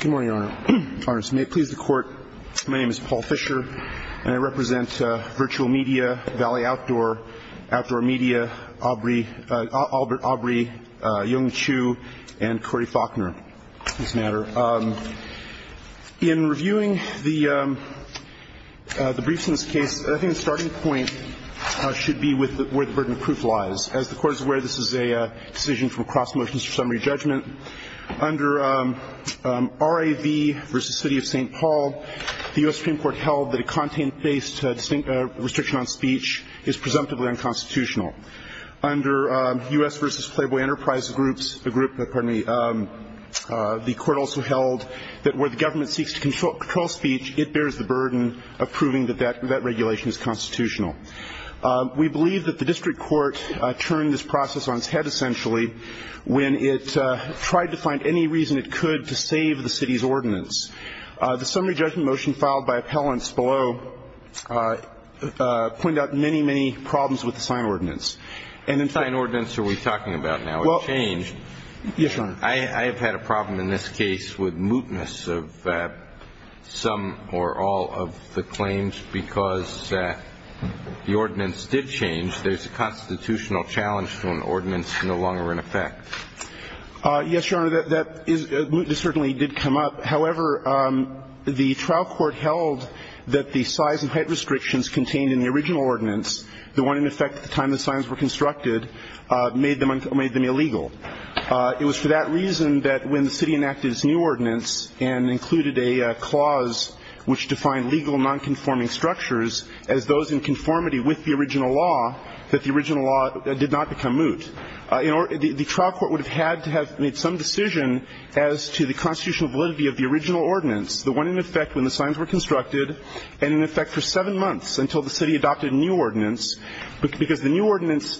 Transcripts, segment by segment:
Good morning, Your Honor. May it please the Court, my name is Paul Fisher, and I represent Virtual Media, Valley Outdoor, Outdoor Media, Aubrey Yong Chiu, and Corey Faulkner. In reviewing the briefs in this case, I think the starting point should be where the burden of proof lies. As the Court is aware, this is a decision from cross motions for summary judgment. Under RAV v. City of St. Paul, the U.S. Supreme Court held that a content-based restriction on speech is presumptively unconstitutional. Under U.S. v. Playboy Enterprise Groups, the Court also held that where the government seeks to control speech, it bears the burden of proving that that regulation is constitutional. We believe that the District Court turned this process on its head, essentially, when it tried to find any reason it could to save the City's ordinance. The summary judgment motion filed by appellants below pointed out many, many problems with the sign ordinance. And in fact – What sign ordinance are we talking about now? It changed. Yes, Your Honor. I have had a problem in this case with mootness of some or all of the claims because the ordinance did change. There's a constitutional challenge to an ordinance no longer in effect. Yes, Your Honor, that is – mootness certainly did come up. However, the trial court held that the size and height restrictions contained in the original ordinance, the one in effect at the time the signs were constructed, made them illegal. It was for that reason that when the City enacted its new ordinance and included a clause which defined legal nonconforming structures as those in conformity with the original law, that the original law did not become moot. The trial court would have had to have made some decision as to the constitutional validity of the original ordinance, the one in effect when the signs were constructed, and in effect for seven months until the City adopted a new ordinance, because the new ordinance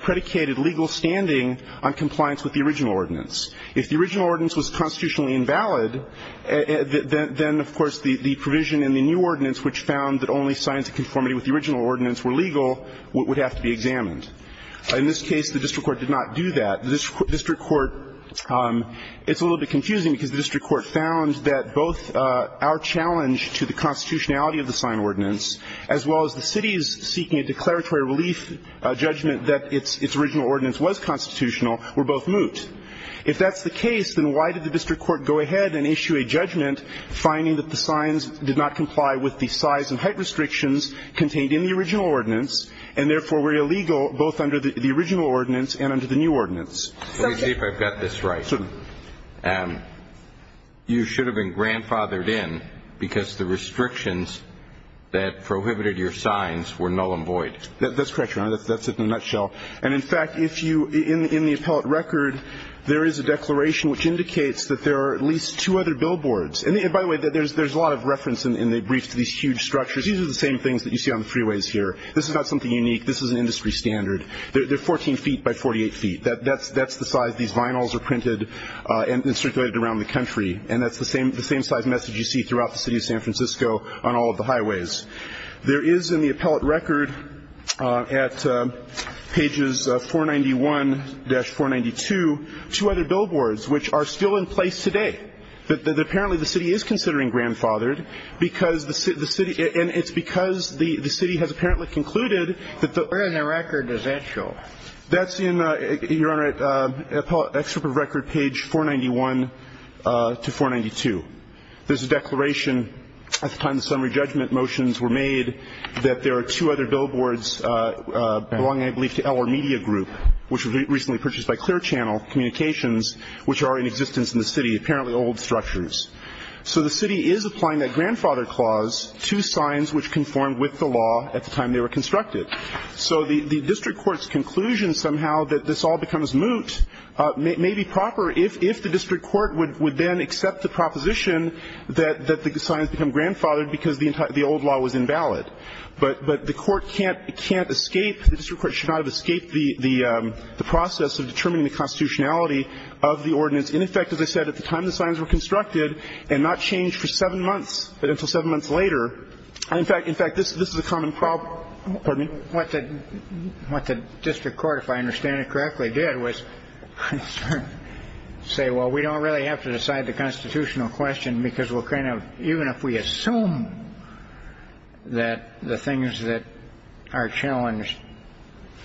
predicated legal standing on compliance with the original ordinance. If the original ordinance was constitutionally invalid, then, of course, the provision in the new ordinance, which found that only signs in conformity with the original ordinance were legal, would have to be examined. In this case, the district court did not do that. The district court – it's a little bit confusing because the district court found that both our challenge to the constitutionality of the sign ordinance, as well as the City's seeking a declaratory relief judgment that its original ordinance was constitutional, were both moot. If that's the case, then why did the district court go ahead and issue a judgment finding that the signs did not comply with the size and height restrictions contained in the original ordinance, and therefore were illegal both under the original ordinance and under the new ordinance? Let me see if I've got this right. Certainly. You should have been grandfathered in because the restrictions that prohibited your signs were null and void. That's correct, Your Honor. That's it in a nutshell. And, in fact, if you – in the appellate record, there is a declaration which indicates that there are at least two other billboards. And, by the way, there's a lot of reference in the briefs to these huge structures. These are the same things that you see on the freeways here. This is not something unique. This is an industry standard. They're 14 feet by 48 feet. That's the size these vinyls are printed and circulated around the country, and that's the same size message you see throughout the city of San Francisco on all of the highways. There is in the appellate record at pages 491-492 two other billboards which are still in place today. But, apparently, the city is considering grandfathered because the city – and it's because the city has apparently concluded that the – Where in the record does that show? That's in, Your Honor, appellate excerpt of record page 491-492. There's a declaration at the time the summary judgment motions were made that there are two other billboards belonging, I believe, to Eller Media Group, which was recently purchased by Clear Channel Communications, which are in existence in the city. Apparently old structures. So the city is applying that grandfather clause to signs which conform with the law at the time they were constructed. So the district court's conclusion somehow that this all becomes moot may be proper if the district court would then accept the proposition that the signs become grandfathered because the old law was invalid. But the court can't escape – the district court should not have escaped the process of determining the constitutionality of the ordinance. In effect, as I said, at the time the signs were constructed and not changed for seven months, but until seven months later. In fact, this is a common problem – pardon me. What the district court, if I understand it correctly, did was say, well, we don't really have to decide the constitutional question because we'll kind of – even if we assume that the things that are challenged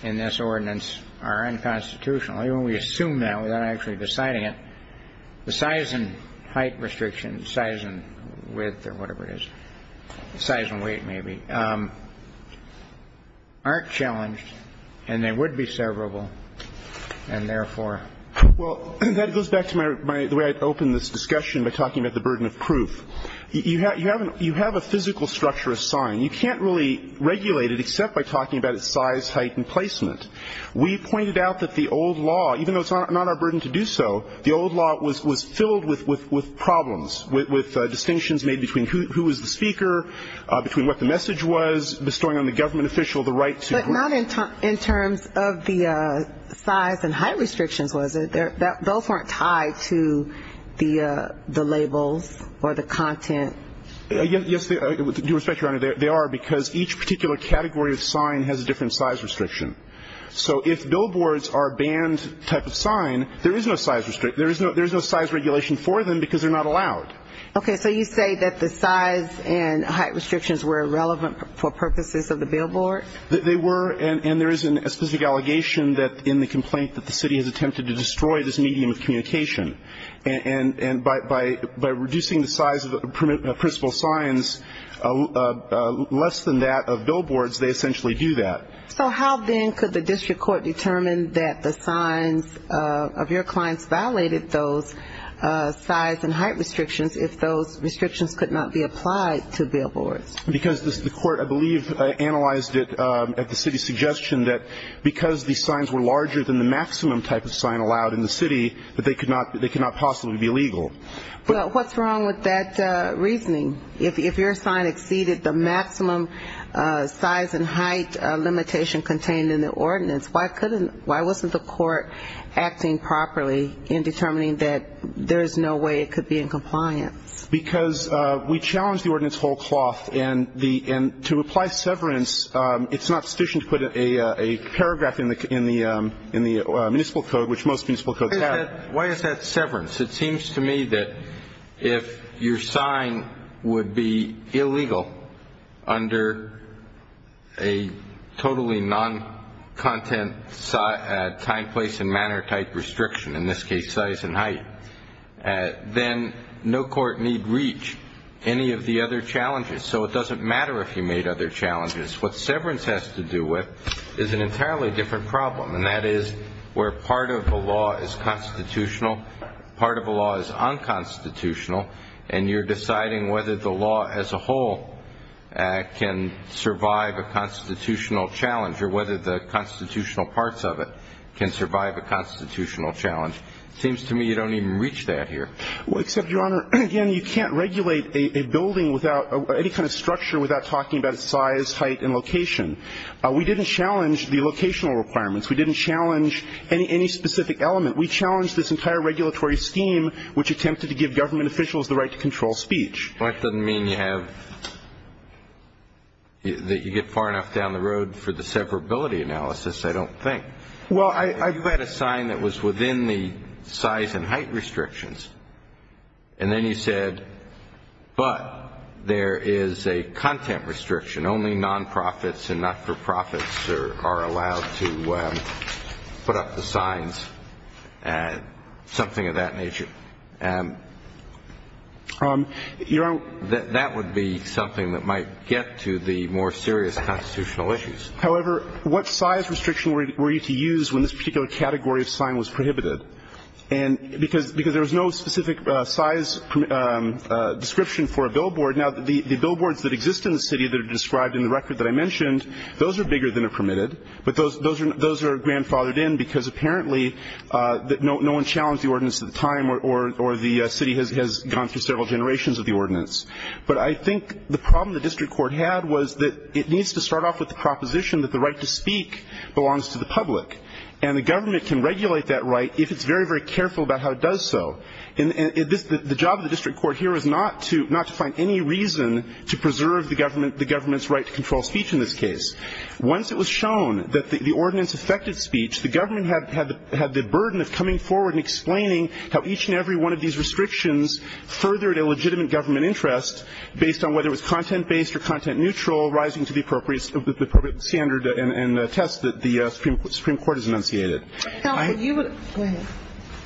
in this ordinance are unconstitutional, even if we assume that without actually deciding it, the size and height restrictions, size and width or whatever it is, size and weight maybe, aren't challenged and they would be severable and therefore – Well, that goes back to the way I opened this discussion by talking about the burden of proof. You have a physical structure of sign. You can't really regulate it except by talking about its size, height and placement. We pointed out that the old law, even though it's not our burden to do so, the old law was filled with problems, with distinctions made between who was the speaker, between what the message was, bestowing on the government official the right to – But not in terms of the size and height restrictions, was it? Those weren't tied to the labels or the content. Yes, with due respect, Your Honor, they are because each particular category of sign has a different size restriction. So if billboards are a banned type of sign, there is no size regulation for them because they're not allowed. Okay. So you say that the size and height restrictions were irrelevant for purposes of the billboard? They were. And there is a specific allegation in the complaint that the city has attempted to destroy this medium of communication. And by reducing the size of principal signs less than that of billboards, they essentially do that. So how then could the district court determine that the signs of your clients violated those size and height restrictions if those restrictions could not be applied to billboards? Because the court, I believe, analyzed it at the city's suggestion that because these signs were larger than the maximum type of sign allowed in the city, that they could not possibly be legal. Well, what's wrong with that reasoning? If your sign exceeded the maximum size and height limitation contained in the ordinance, why wasn't the court acting properly in determining that there is no way it could be in compliance? Because we challenged the ordinance whole cloth. And to apply severance, it's not sufficient to put a paragraph in the municipal code, which most municipal codes have. Why is that severance? It seems to me that if your sign would be illegal under a totally non-content time, place, and manner type restriction, in this case size and height, then no court need reach any of the other challenges. So it doesn't matter if you made other challenges. What severance has to do with is an entirely different problem, and that is where part of the law is constitutional, part of the law is unconstitutional, and you're deciding whether the law as a whole can survive a constitutional challenge or whether the constitutional parts of it can survive a constitutional challenge. It seems to me you don't even reach that here. Well, except, Your Honor, again, you can't regulate a building without any kind of structure without talking about size, height, and location. We didn't challenge the locational requirements. We didn't challenge any specific element. We challenged this entire regulatory scheme, which attempted to give government officials the right to control speech. Well, that doesn't mean you have to get far enough down the road for the severability analysis, I don't think. Well, I read a sign that was within the size and height restrictions, and then you said, but there is a content restriction. Only nonprofits and not-for-profits are allowed to put up the signs, something of that nature. Your Honor. That would be something that might get to the more serious constitutional issues. However, what size restriction were you to use when this particular category of sign was prohibited? Because there was no specific size description for a billboard. Now, the billboards that exist in the city that are described in the record that I mentioned, those are bigger than are permitted, but those are grandfathered in because apparently no one challenged the ordinance at the time or the city has gone through several generations of the ordinance. But I think the problem the district court had was that it needs to start off with the proposition that the right to speak belongs to the public, and the government can regulate that right if it's very, very careful about how it does so. And the job of the district court here is not to find any reason to preserve the government's right to control speech in this case. Once it was shown that the ordinance affected speech, the government had the burden of coming forward and explaining how each and every one of these restrictions furthered a legitimate government interest based on whether it was content-based or content-neutral, rising to the appropriate standard and test that the Supreme Court has enunciated. Go ahead.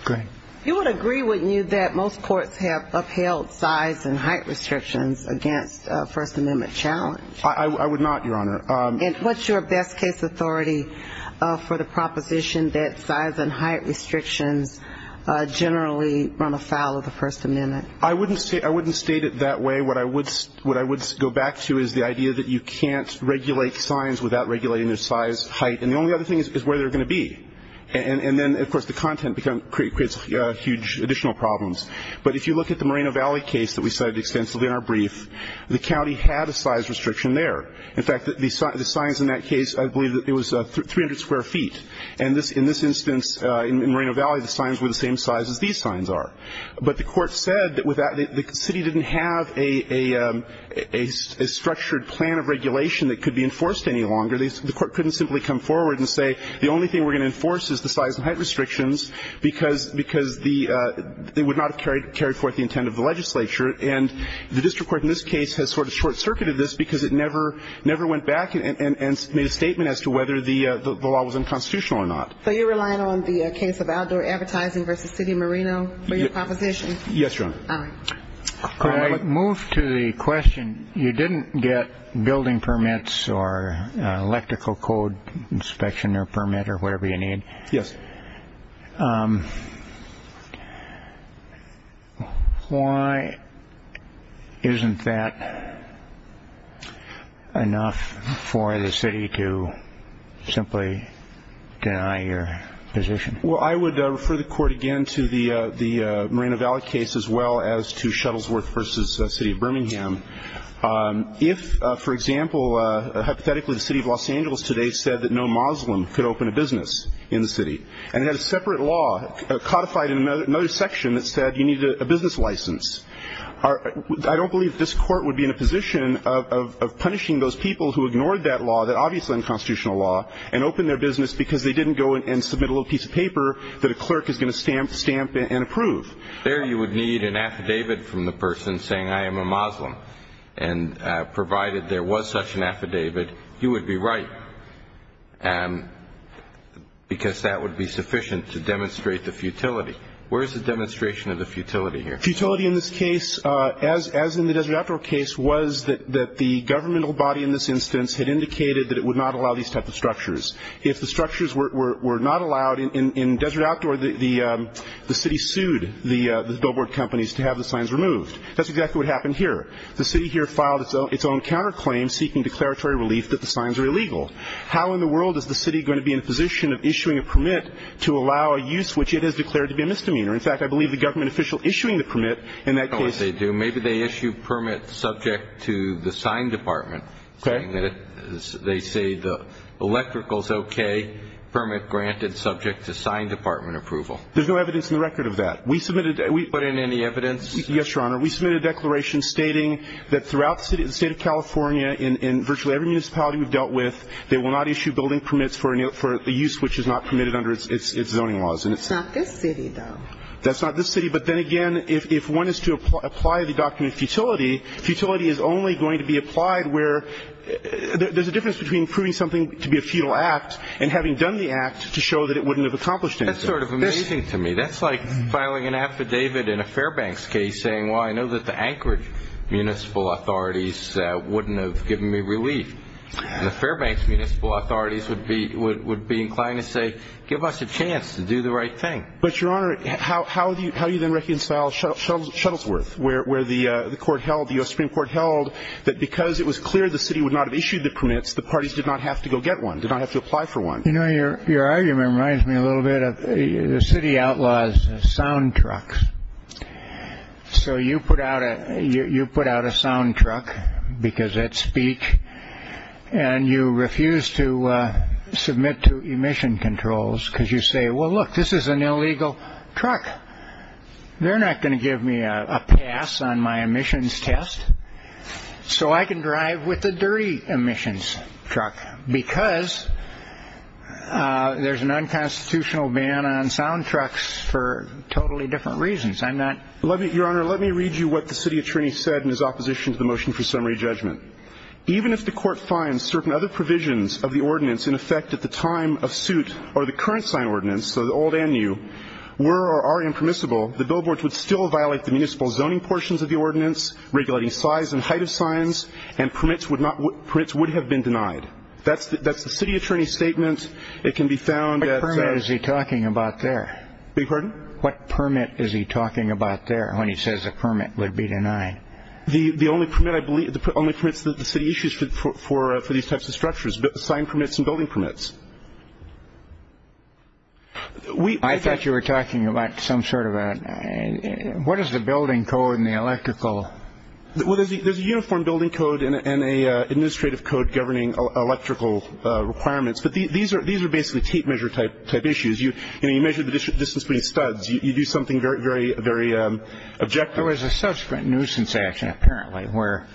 Go ahead. You would agree, wouldn't you, that most courts have upheld size and height restrictions against a First Amendment challenge? I would not, Your Honor. And what's your best case authority for the proposition that size and height restrictions generally run afoul of the First Amendment? I wouldn't state it that way. What I would go back to is the idea that you can't regulate signs without regulating their size, height, and the only other thing is where they're going to be. And then, of course, the content creates huge additional problems. But if you look at the Moreno Valley case that we cited extensively in our brief, the county had a size restriction there. In fact, the signs in that case, I believe it was 300 square feet. And in this instance, in Moreno Valley, the signs were the same size as these signs are. But the court said that the city didn't have a structured plan of regulation that could be enforced any longer. The court couldn't simply come forward and say the only thing we're going to enforce is the size and height restrictions because they would not have carried forth the intent of the legislature. And the district court in this case has sort of short-circuited this because it never went back and made a statement as to whether the law was unconstitutional or not. So you're relying on the case of outdoor advertising versus City of Moreno for your proposition? Yes, Your Honor. Could I move to the question, you didn't get building permits or electrical code inspection or permit or whatever you need. Yes. Why isn't that enough for the city to simply deny your position? Well, I would refer the court again to the Moreno Valley case as well as to Shuttlesworth versus City of Birmingham. If, for example, hypothetically the city of Los Angeles today said that no Muslim could open a business in the city and had a separate law codified in another section that said you need a business license, I don't believe this court would be in a position of punishing those people who ignored that law, that obviously unconstitutional law, and opened their business because they didn't go and submit a little piece of paper that a clerk is going to stamp and approve. There you would need an affidavit from the person saying I am a Muslim. And provided there was such an affidavit, you would be right because that would be sufficient to demonstrate the futility. Where is the demonstration of the futility here? Futility in this case, as in the Desert Outdoor case, was that the governmental body in this instance had indicated that it would not allow these types of structures. If the structures were not allowed in Desert Outdoor, the city sued the billboard companies to have the signs removed. That's exactly what happened here. The city here filed its own counterclaim seeking declaratory relief that the signs are illegal. How in the world is the city going to be in a position of issuing a permit to allow a use which it has declared to be a misdemeanor? In fact, I believe the government official issuing the permit in that case – I don't know if they do. Maybe they issue permits subject to the sign department. Okay. They say the electrical is okay, permit granted subject to sign department approval. There's no evidence in the record of that. We submitted – Put in any evidence? Yes, Your Honor. We submitted a declaration stating that throughout the State of California in virtually every municipality we've dealt with, they will not issue building permits for a use which is not permitted under its zoning laws. That's not this city, though. That's not this city. But then again, if one is to apply the document of futility, futility is only going to be applied where – there's a difference between proving something to be a futile act and having done the act to show that it wouldn't have accomplished anything. That's sort of amazing to me. That's like filing an affidavit in a Fairbanks case saying, well, I know that the Anchorage municipal authorities wouldn't have given me relief. And the Fairbanks municipal authorities would be inclined to say, give us a chance to do the right thing. But, Your Honor, how do you then reconcile Shuttlesworth, where the court held, the U.S. Supreme Court held, that because it was clear the city would not have issued the permits, the parties did not have to go get one, did not have to apply for one? You know, your argument reminds me a little bit of the city outlaws' sound trucks. So you put out a sound truck because that's speech, and you refuse to submit to emission controls because you say, well, look, this is an illegal truck. They're not going to give me a pass on my emissions test so I can drive with a dirty emissions truck because there's an unconstitutional ban on sound trucks for totally different reasons. I'm not. Your Honor, let me read you what the city attorney said in his opposition to the motion for summary judgment. Even if the court finds certain other provisions of the ordinance in effect at the time of suit or the current sign ordinance, so old and new, were or are impermissible, the billboards would still violate the municipal zoning portions of the ordinance, regulating size and height of signs, and permits would have been denied. That's the city attorney's statement. It can be found at... What permit is he talking about there? Beg your pardon? What permit is he talking about there when he says a permit would be denied? The only permit, I believe, the only permits that the city issues for these types of structures, sign permits and building permits. I thought you were talking about some sort of a... What is the building code and the electrical... Well, there's a uniform building code and an administrative code governing electrical requirements, but these are basically tape measure type issues. You measure the distance between studs. You do something very, very objective. There was a subsequent nuisance action, apparently, where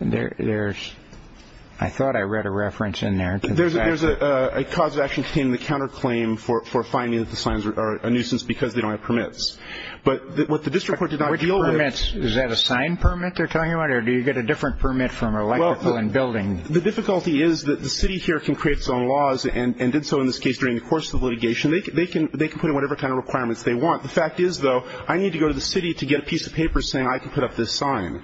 there's... I thought I read a reference in there. There's a cause of action containing the counterclaim for finding that the signs are a nuisance because they don't have permits. But what the district court did not deal with... Which permits? Is that a sign permit they're talking about, or do you get a different permit from electrical and building? Well, the difficulty is that the city here can create its own laws and did so in this case during the course of the litigation. They can put in whatever kind of requirements they want. The fact is, though, I need to go to the city to get a piece of paper saying I can put up this sign.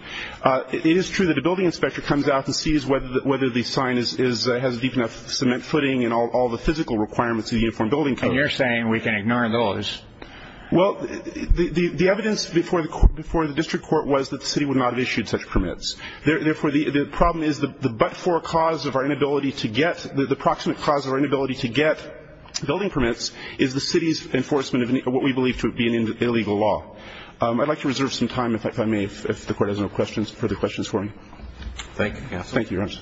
It is true that a building inspector comes out and sees whether the sign is... has a deep enough cement footing and all the physical requirements of the uniform building code. And you're saying we can ignore those? Well, the evidence before the district court was that the city would not have issued such permits. Therefore, the problem is the but-for cause of our inability to get... the proximate cause of our inability to get building permits is the city's enforcement of what we believe to be an illegal law. I'd like to reserve some time, if I may, if the Court has no further questions for me. Thank you. Thank you, Your Honor.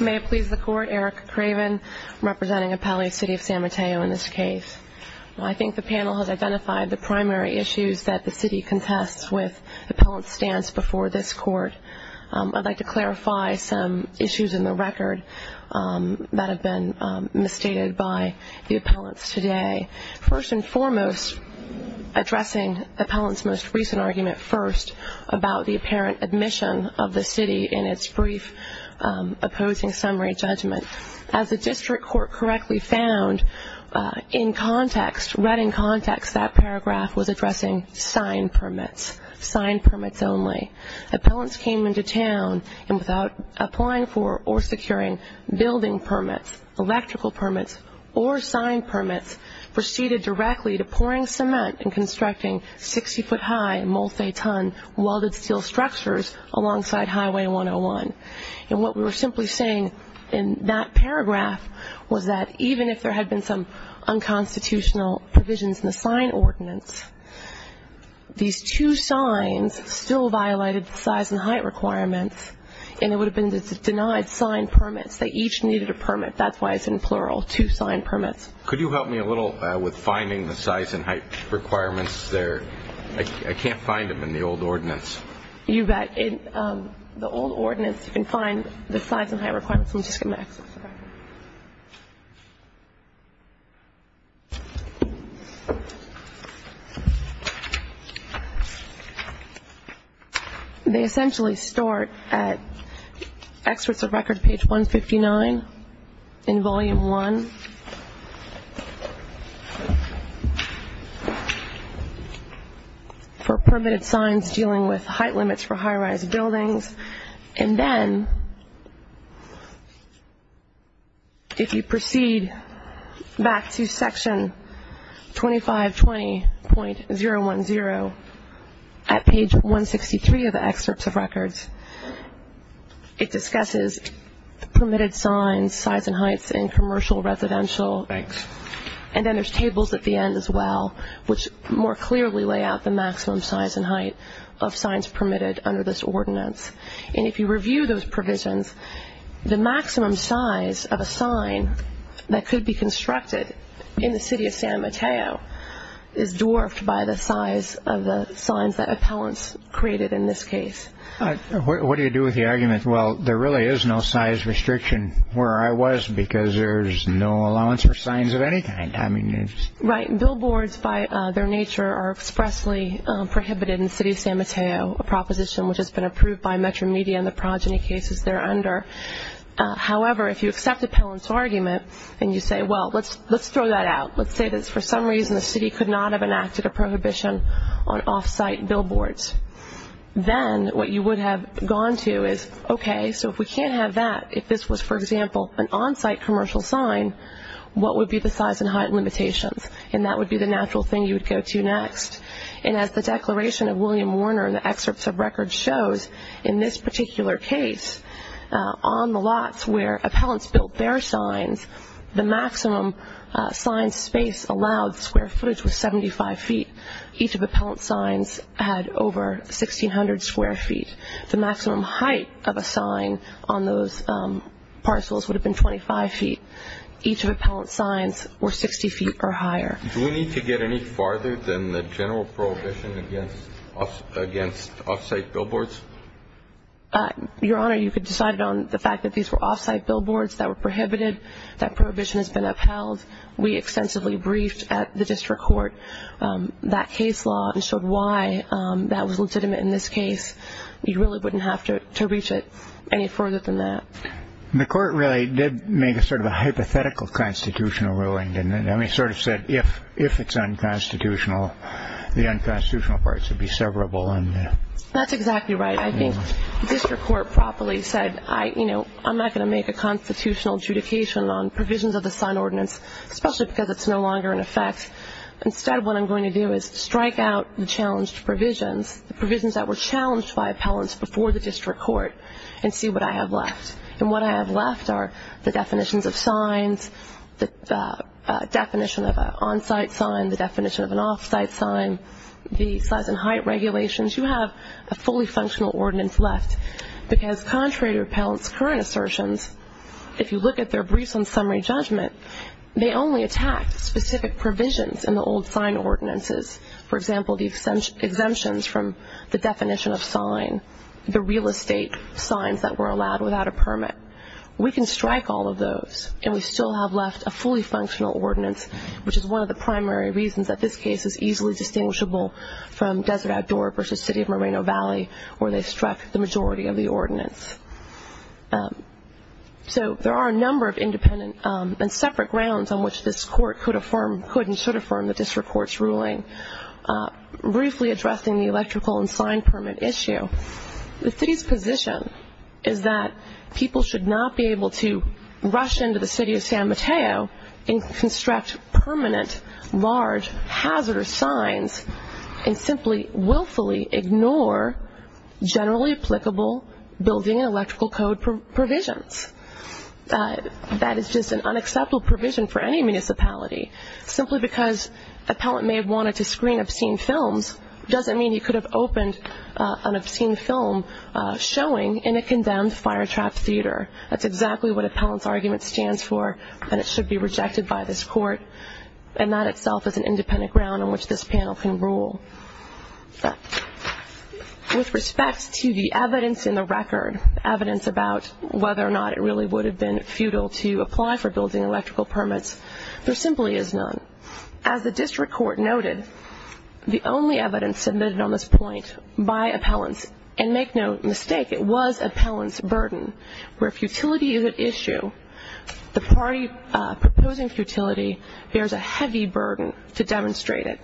May it please the Court. Erica Craven representing Appellate City of San Mateo in this case. I think the panel has identified the primary issues that the city contests with the appellant's stance before this Court. I'd like to clarify some issues in the record that have been misstated by the appellants today. First and foremost, addressing the appellant's most recent argument first about the apparent admission of the city in its brief opposing summary judgment. As the district court correctly found in context, read in context, that paragraph was addressing sign permits, sign permits only. Appellants came into town and without applying for or securing building permits, electrical permits, or sign permits, proceeded directly to pouring cement and constructing 60-foot high, multi-ton, welded steel structures alongside Highway 101. And what we were simply saying in that paragraph was that even if there had been some unconstitutional provisions in the sign ordinance, these two signs still violated the size and height requirements, and it would have been the denied sign permits. They each needed a permit. That's why it's in plural, two sign permits. Could you help me a little with finding the size and height requirements there? I can't find them in the old ordinance. You bet. In the old ordinance, you can find the size and height requirements. Let me just get my exercise. Okay. They essentially start at Excerpts of Record, page 159, in Volume 1, for permitted signs dealing with height limits for high-rise buildings. And then if you proceed back to Section 2520.010 at page 163 of the Excerpts of Records, it discusses permitted signs, size and heights in commercial, residential. Thanks. And then there's tables at the end as well, which more clearly lay out the maximum size and height of signs permitted under this ordinance. And if you review those provisions, the maximum size of a sign that could be constructed in the city of San Mateo is dwarfed by the size of the signs that appellants created in this case. What do you do with the argument, well, there really is no size restriction where I was because there's no allowance for signs of any kind? Right. Billboards by their nature are expressly prohibited in the city of San Mateo, a proposition which has been approved by Metro Media and the progeny cases they're under. However, if you accept appellants' argument and you say, well, let's throw that out, let's say that for some reason the city could not have enacted a prohibition on off-site billboards, then what you would have gone to is, okay, so if we can't have that, if this was, for example, an on-site commercial sign, what would be the size and height limitations? And that would be the natural thing you would go to next. And as the declaration of William Warner in the excerpts of records shows, in this particular case, on the lots where appellants built their signs, the maximum sign space allowed square footage was 75 feet. Each of the appellant's signs had over 1,600 square feet. The maximum height of a sign on those parcels would have been 25 feet. Each of appellant's signs were 60 feet or higher. Do we need to get any farther than the general prohibition against off-site billboards? Your Honor, you could decide it on the fact that these were off-site billboards that were prohibited, that prohibition has been upheld. We extensively briefed at the district court that case law and showed why that was legitimate in this case. You really wouldn't have to reach it any further than that. The court really did make a sort of a hypothetical constitutional ruling, didn't it? I mean, it sort of said if it's unconstitutional, the unconstitutional parts would be severable. That's exactly right. I think the district court properly said, you know, I'm not going to make a constitutional adjudication on provisions of the sign ordinance, especially because it's no longer in effect. Instead, what I'm going to do is strike out the challenged provisions, the provisions that were challenged by appellants before the district court, and see what I have left. And what I have left are the definitions of signs, the definition of an on-site sign, the definition of an off-site sign, the size and height regulations. You have a fully functional ordinance left because contrary to appellants' current assertions, if you look at their briefs on summary judgment, they only attacked specific provisions in the old sign ordinances. For example, the exemptions from the definition of sign, the real estate signs that were allowed without a permit. We can strike all of those, and we still have left a fully functional ordinance, which is one of the primary reasons that this case is easily distinguishable from Desert Outdoor versus City of Moreno Valley, where they struck the majority of the ordinance. So there are a number of independent and separate grounds on which this court could and should affirm the district court's ruling. Briefly addressing the electrical and sign permit issue, the city's position is that people should not be able to rush into the city of San Mateo and construct permanent, large, hazardous signs and simply willfully ignore generally applicable building and electrical code provisions. That is just an unacceptable provision for any municipality. Simply because an appellant may have wanted to screen obscene films doesn't mean he could have opened an obscene film showing in a condemned fire-trapped theater. That's exactly what appellant's argument stands for, and it should be rejected by this court. And that itself is an independent ground on which this panel can rule. With respect to the evidence in the record, evidence about whether or not it really would have been futile to apply for building and electrical permits, there simply is none. As the district court noted, the only evidence submitted on this point by appellants, and make no mistake, it was appellant's burden. Where futility is at issue, the party proposing futility bears a heavy burden to demonstrate it.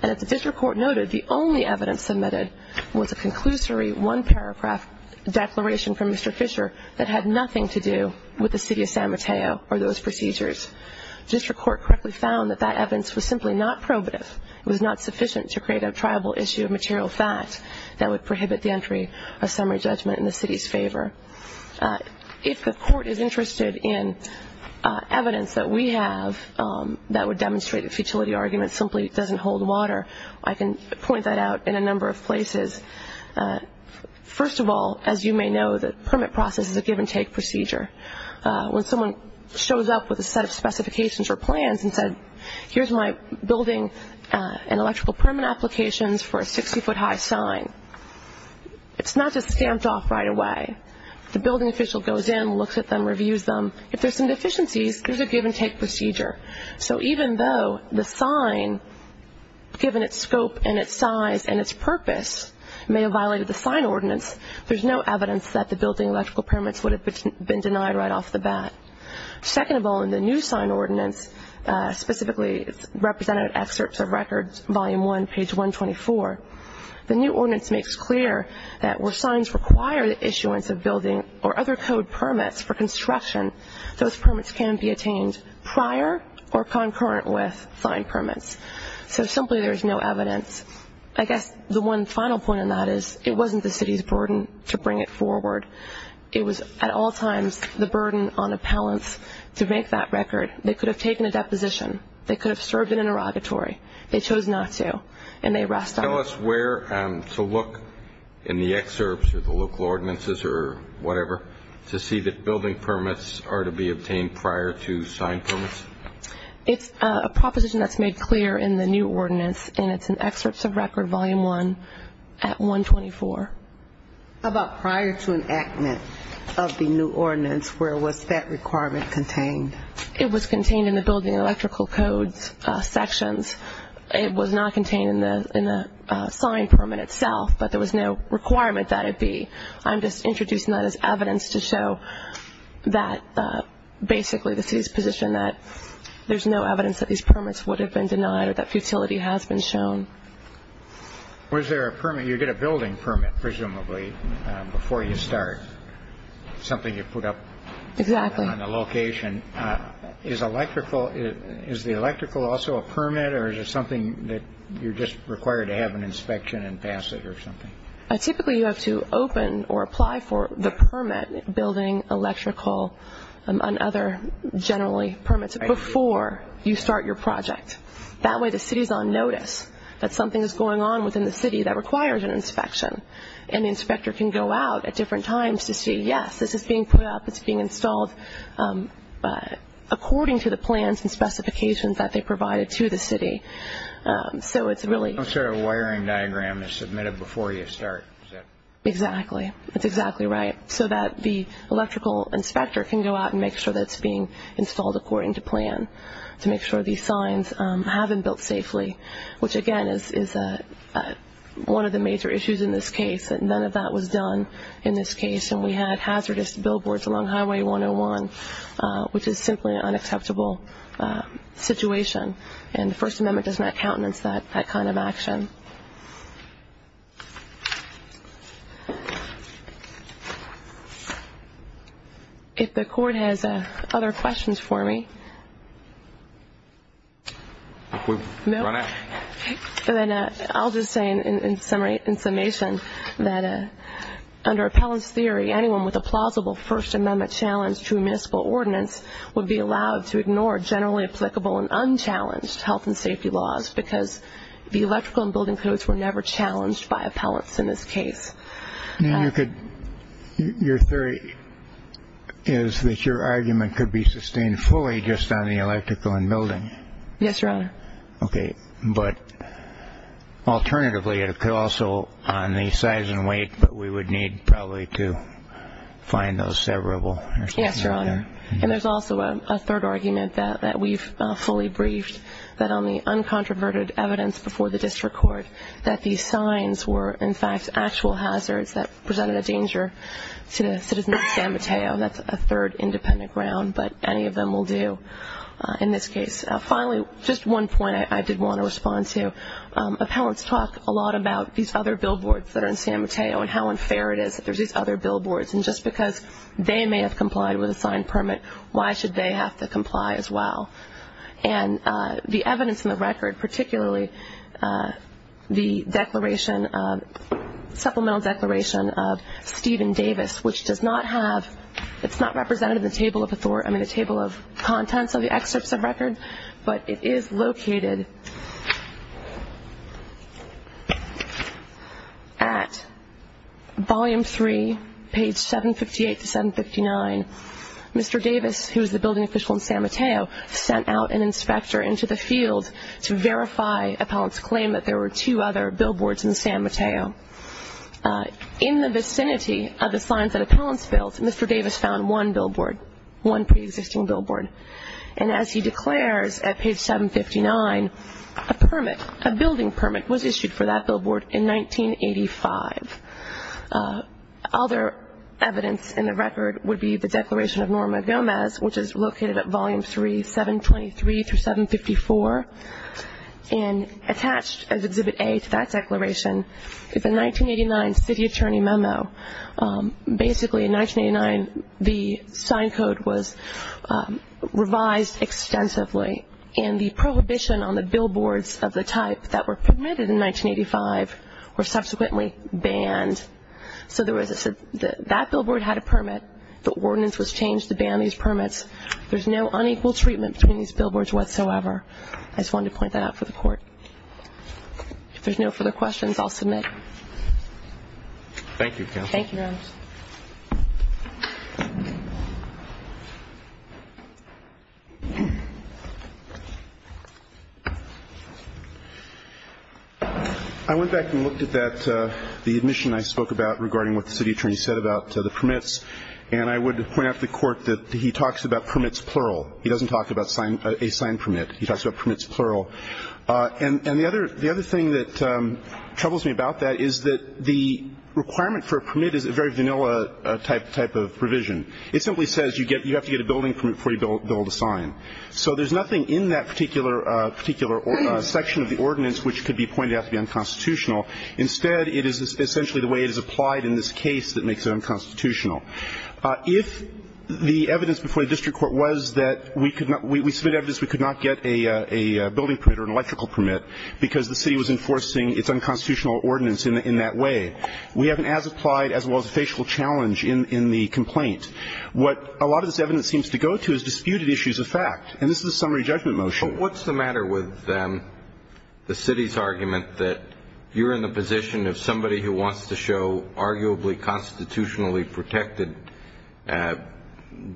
And as the district court noted, the only evidence submitted was a conclusory one-paragraph declaration from Mr. Fisher that had nothing to do with the city of San Mateo or those procedures. The district court correctly found that that evidence was simply not probative. It was not sufficient to create a triable issue of material fact that would prohibit the entry of summary judgment in the city's favor. If the court is interested in evidence that we have that would demonstrate the futility argument simply doesn't hold water, I can point that out in a number of places. First of all, as you may know, the permit process is a give-and-take procedure. When someone shows up with a set of specifications or plans and says, here's my building and electrical permit applications for a 60-foot high sign, it's not just stamped off right away. The building official goes in, looks at them, reviews them. If there's some deficiencies, there's a give-and-take procedure. So even though the sign, given its scope and its size and its purpose, may have violated the sign ordinance, there's no evidence that the building electrical permits would have been denied right off the bat. Second of all, in the new sign ordinance, specifically represented in excerpts of records, volume 1, page 124, the new ordinance makes clear that where signs require the issuance of building or other code permits for construction, those permits can be attained prior or concurrent with signed permits. So simply there's no evidence. I guess the one final point on that is it wasn't the city's burden to bring it forward. It was, at all times, the burden on appellants to make that record. They could have taken a deposition. They could have served in an interrogatory. They chose not to, and they rest on it. Tell us where to look in the excerpts or the local ordinances or whatever to see that building permits are to be obtained prior to signed permits. It's a proposition that's made clear in the new ordinance, and it's in excerpts of record, volume 1, at 124. How about prior to enactment of the new ordinance? Where was that requirement contained? It was contained in the building electrical codes sections. It was not contained in the signed permit itself, but there was no requirement that it be. I'm just introducing that as evidence to show that, basically, the city's position that there's no evidence that these permits would have been denied or that futility has been shown. Was there a permit? You get a building permit, presumably, before you start, something you put up on the location. Exactly. Is the electrical also a permit, or is it something that you're just required to have an inspection and pass it or something? Typically, you have to open or apply for the permit, building, electrical, and other generally permits before you start your project. That way, the city's on notice that something is going on within the city that requires an inspection, and the inspector can go out at different times to see, yes, this is being put up, it's being installed according to the plans and specifications that they provided to the city. So it's really – So a wiring diagram is submitted before you start, is that – Exactly. That's exactly right, so that the electrical inspector can go out and make sure that it's being installed according to plan to make sure these signs haven't built safely, which, again, is one of the major issues in this case, that none of that was done in this case, and we had hazardous billboards along Highway 101, which is simply an unacceptable situation, and the First Amendment does not countenance that kind of action. Thank you. If the court has other questions for me, then I'll just say in summation that under appellant's theory, anyone with a plausible First Amendment challenge to a municipal ordinance would be allowed to ignore generally applicable and unchallenged health and safety laws because the electrical and building codes were never challenged by appellants in this case. Your theory is that your argument could be sustained fully just on the electrical and building. Yes, Your Honor. Okay, but alternatively it could also on the size and weight, but we would need probably to find those severable. Yes, Your Honor, and there's also a third argument that we've fully briefed, that on the uncontroverted evidence before the district court, that these signs were in fact actual hazards that presented a danger to the citizens of San Mateo, and that's a third independent ground, but any of them will do in this case. Finally, just one point I did want to respond to. Appellants talk a lot about these other billboards that are in San Mateo and how unfair it is that there's these other billboards, and just because they may have complied with a signed permit, why should they have to comply as well? And the evidence in the record, particularly the supplemental declaration of Stephen Davis, which does not have, it's not represented in the table of contents of the excerpts of record, but it is located at volume three, page 758 to 759. Mr. Davis, who is the building official in San Mateo, sent out an inspector into the field to verify appellants' claim that there were two other billboards in San Mateo. In the vicinity of the signs that appellants built, Mr. Davis found one billboard, one preexisting billboard, and as he declares at page 759, a permit, a building permit was issued for that billboard in 1985. Other evidence in the record would be the declaration of Norma Gomez, which is located at volume three, 723 through 754. And attached as Exhibit A to that declaration is a 1989 city attorney memo. Basically, in 1989, the sign code was revised extensively, and the prohibition on the billboards of the type that were permitted in 1985 were subsequently banned. So that billboard had a permit. The ordinance was changed to ban these permits. There's no unequal treatment between these billboards whatsoever. I just wanted to point that out for the Court. If there's no further questions, I'll submit. Thank you, Counsel. Thank you, Your Honor. Thank you. I went back and looked at that, the admission I spoke about regarding what the city attorney said about the permits, and I would point out to the Court that he talks about permits plural. He doesn't talk about a signed permit. He talks about permits plural. And the other thing that troubles me about that is that the requirement for a permit is a very vanilla type of provision. It simply says you have to get a building permit before you build a sign. So there's nothing in that particular section of the ordinance which could be pointed out to be unconstitutional. Instead, it is essentially the way it is applied in this case that makes it unconstitutional. If the evidence before the district court was that we submit evidence we could not get a building permit or an electrical permit because the city was enforcing its unconstitutional ordinance in that way, we have an as-applied as well as a facial challenge in the complaint. What a lot of this evidence seems to go to is disputed issues of fact. And this is a summary judgment motion. But what's the matter with the city's argument that you're in the position of somebody who wants to show arguably constitutionally protected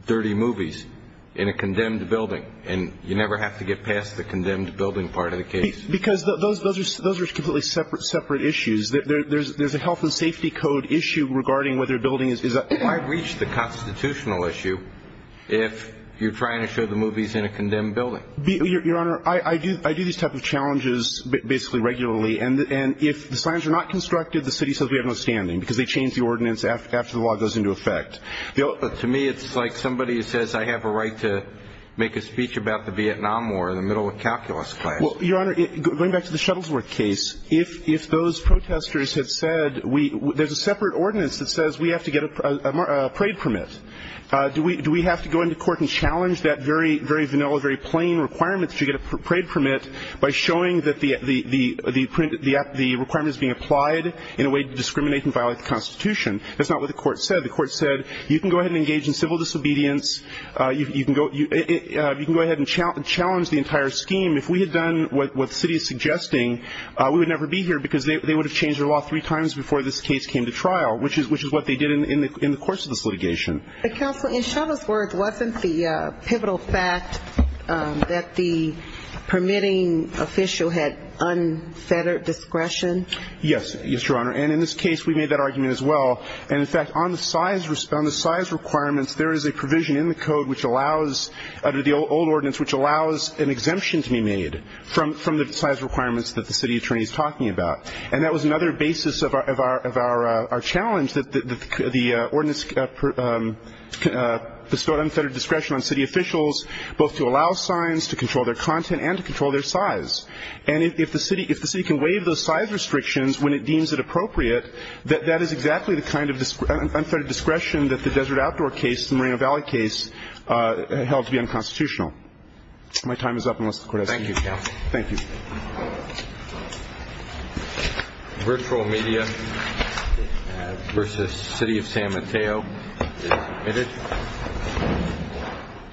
dirty movies in a condemned building, and you never have to get past the condemned building part of the case? Because those are completely separate issues. There's a health and safety code issue regarding whether a building is a – Why reach the constitutional issue if you're trying to show the movies in a condemned building? Your Honor, I do these type of challenges basically regularly. And if the slams are not constructed, the city says we have no standing, because they change the ordinance after the law goes into effect. To me, it's like somebody says I have a right to make a speech about the Vietnam War in the middle of calculus class. Well, Your Honor, going back to the Shuttlesworth case, if those protesters had said we – there's a separate ordinance that says we have to get a parade permit. Do we have to go into court and challenge that very vanilla, very plain requirement that you get a parade permit by showing that the requirement is being applied in a way to discriminate and violate the Constitution? That's not what the court said. The court said you can go ahead and engage in civil disobedience. You can go ahead and challenge the entire scheme. If we had done what the city is suggesting, we would never be here, because they would have changed their law three times before this case came to trial, which is what they did in the course of this litigation. Counsel, in Shuttlesworth, wasn't the pivotal fact that the permitting official had unfettered discretion? Yes, Your Honor. And in this case, we made that argument as well. And, in fact, on the size requirements, there is a provision in the code which allows – under the old ordinance, which allows an exemption to be made from the size requirements that the city attorney is talking about. And that was another basis of our challenge, that the ordinance bestowed unfettered discretion on city officials both to allow signs, to control their content, and to control their size. And if the city can waive those size restrictions when it deems it appropriate, that is exactly the kind of unfettered discretion that the Desert Outdoor case, the Moreno Valley case, held to be unconstitutional. My time is up, unless the court has anything else. Thank you. Virtual media versus City of San Mateo. Admitted.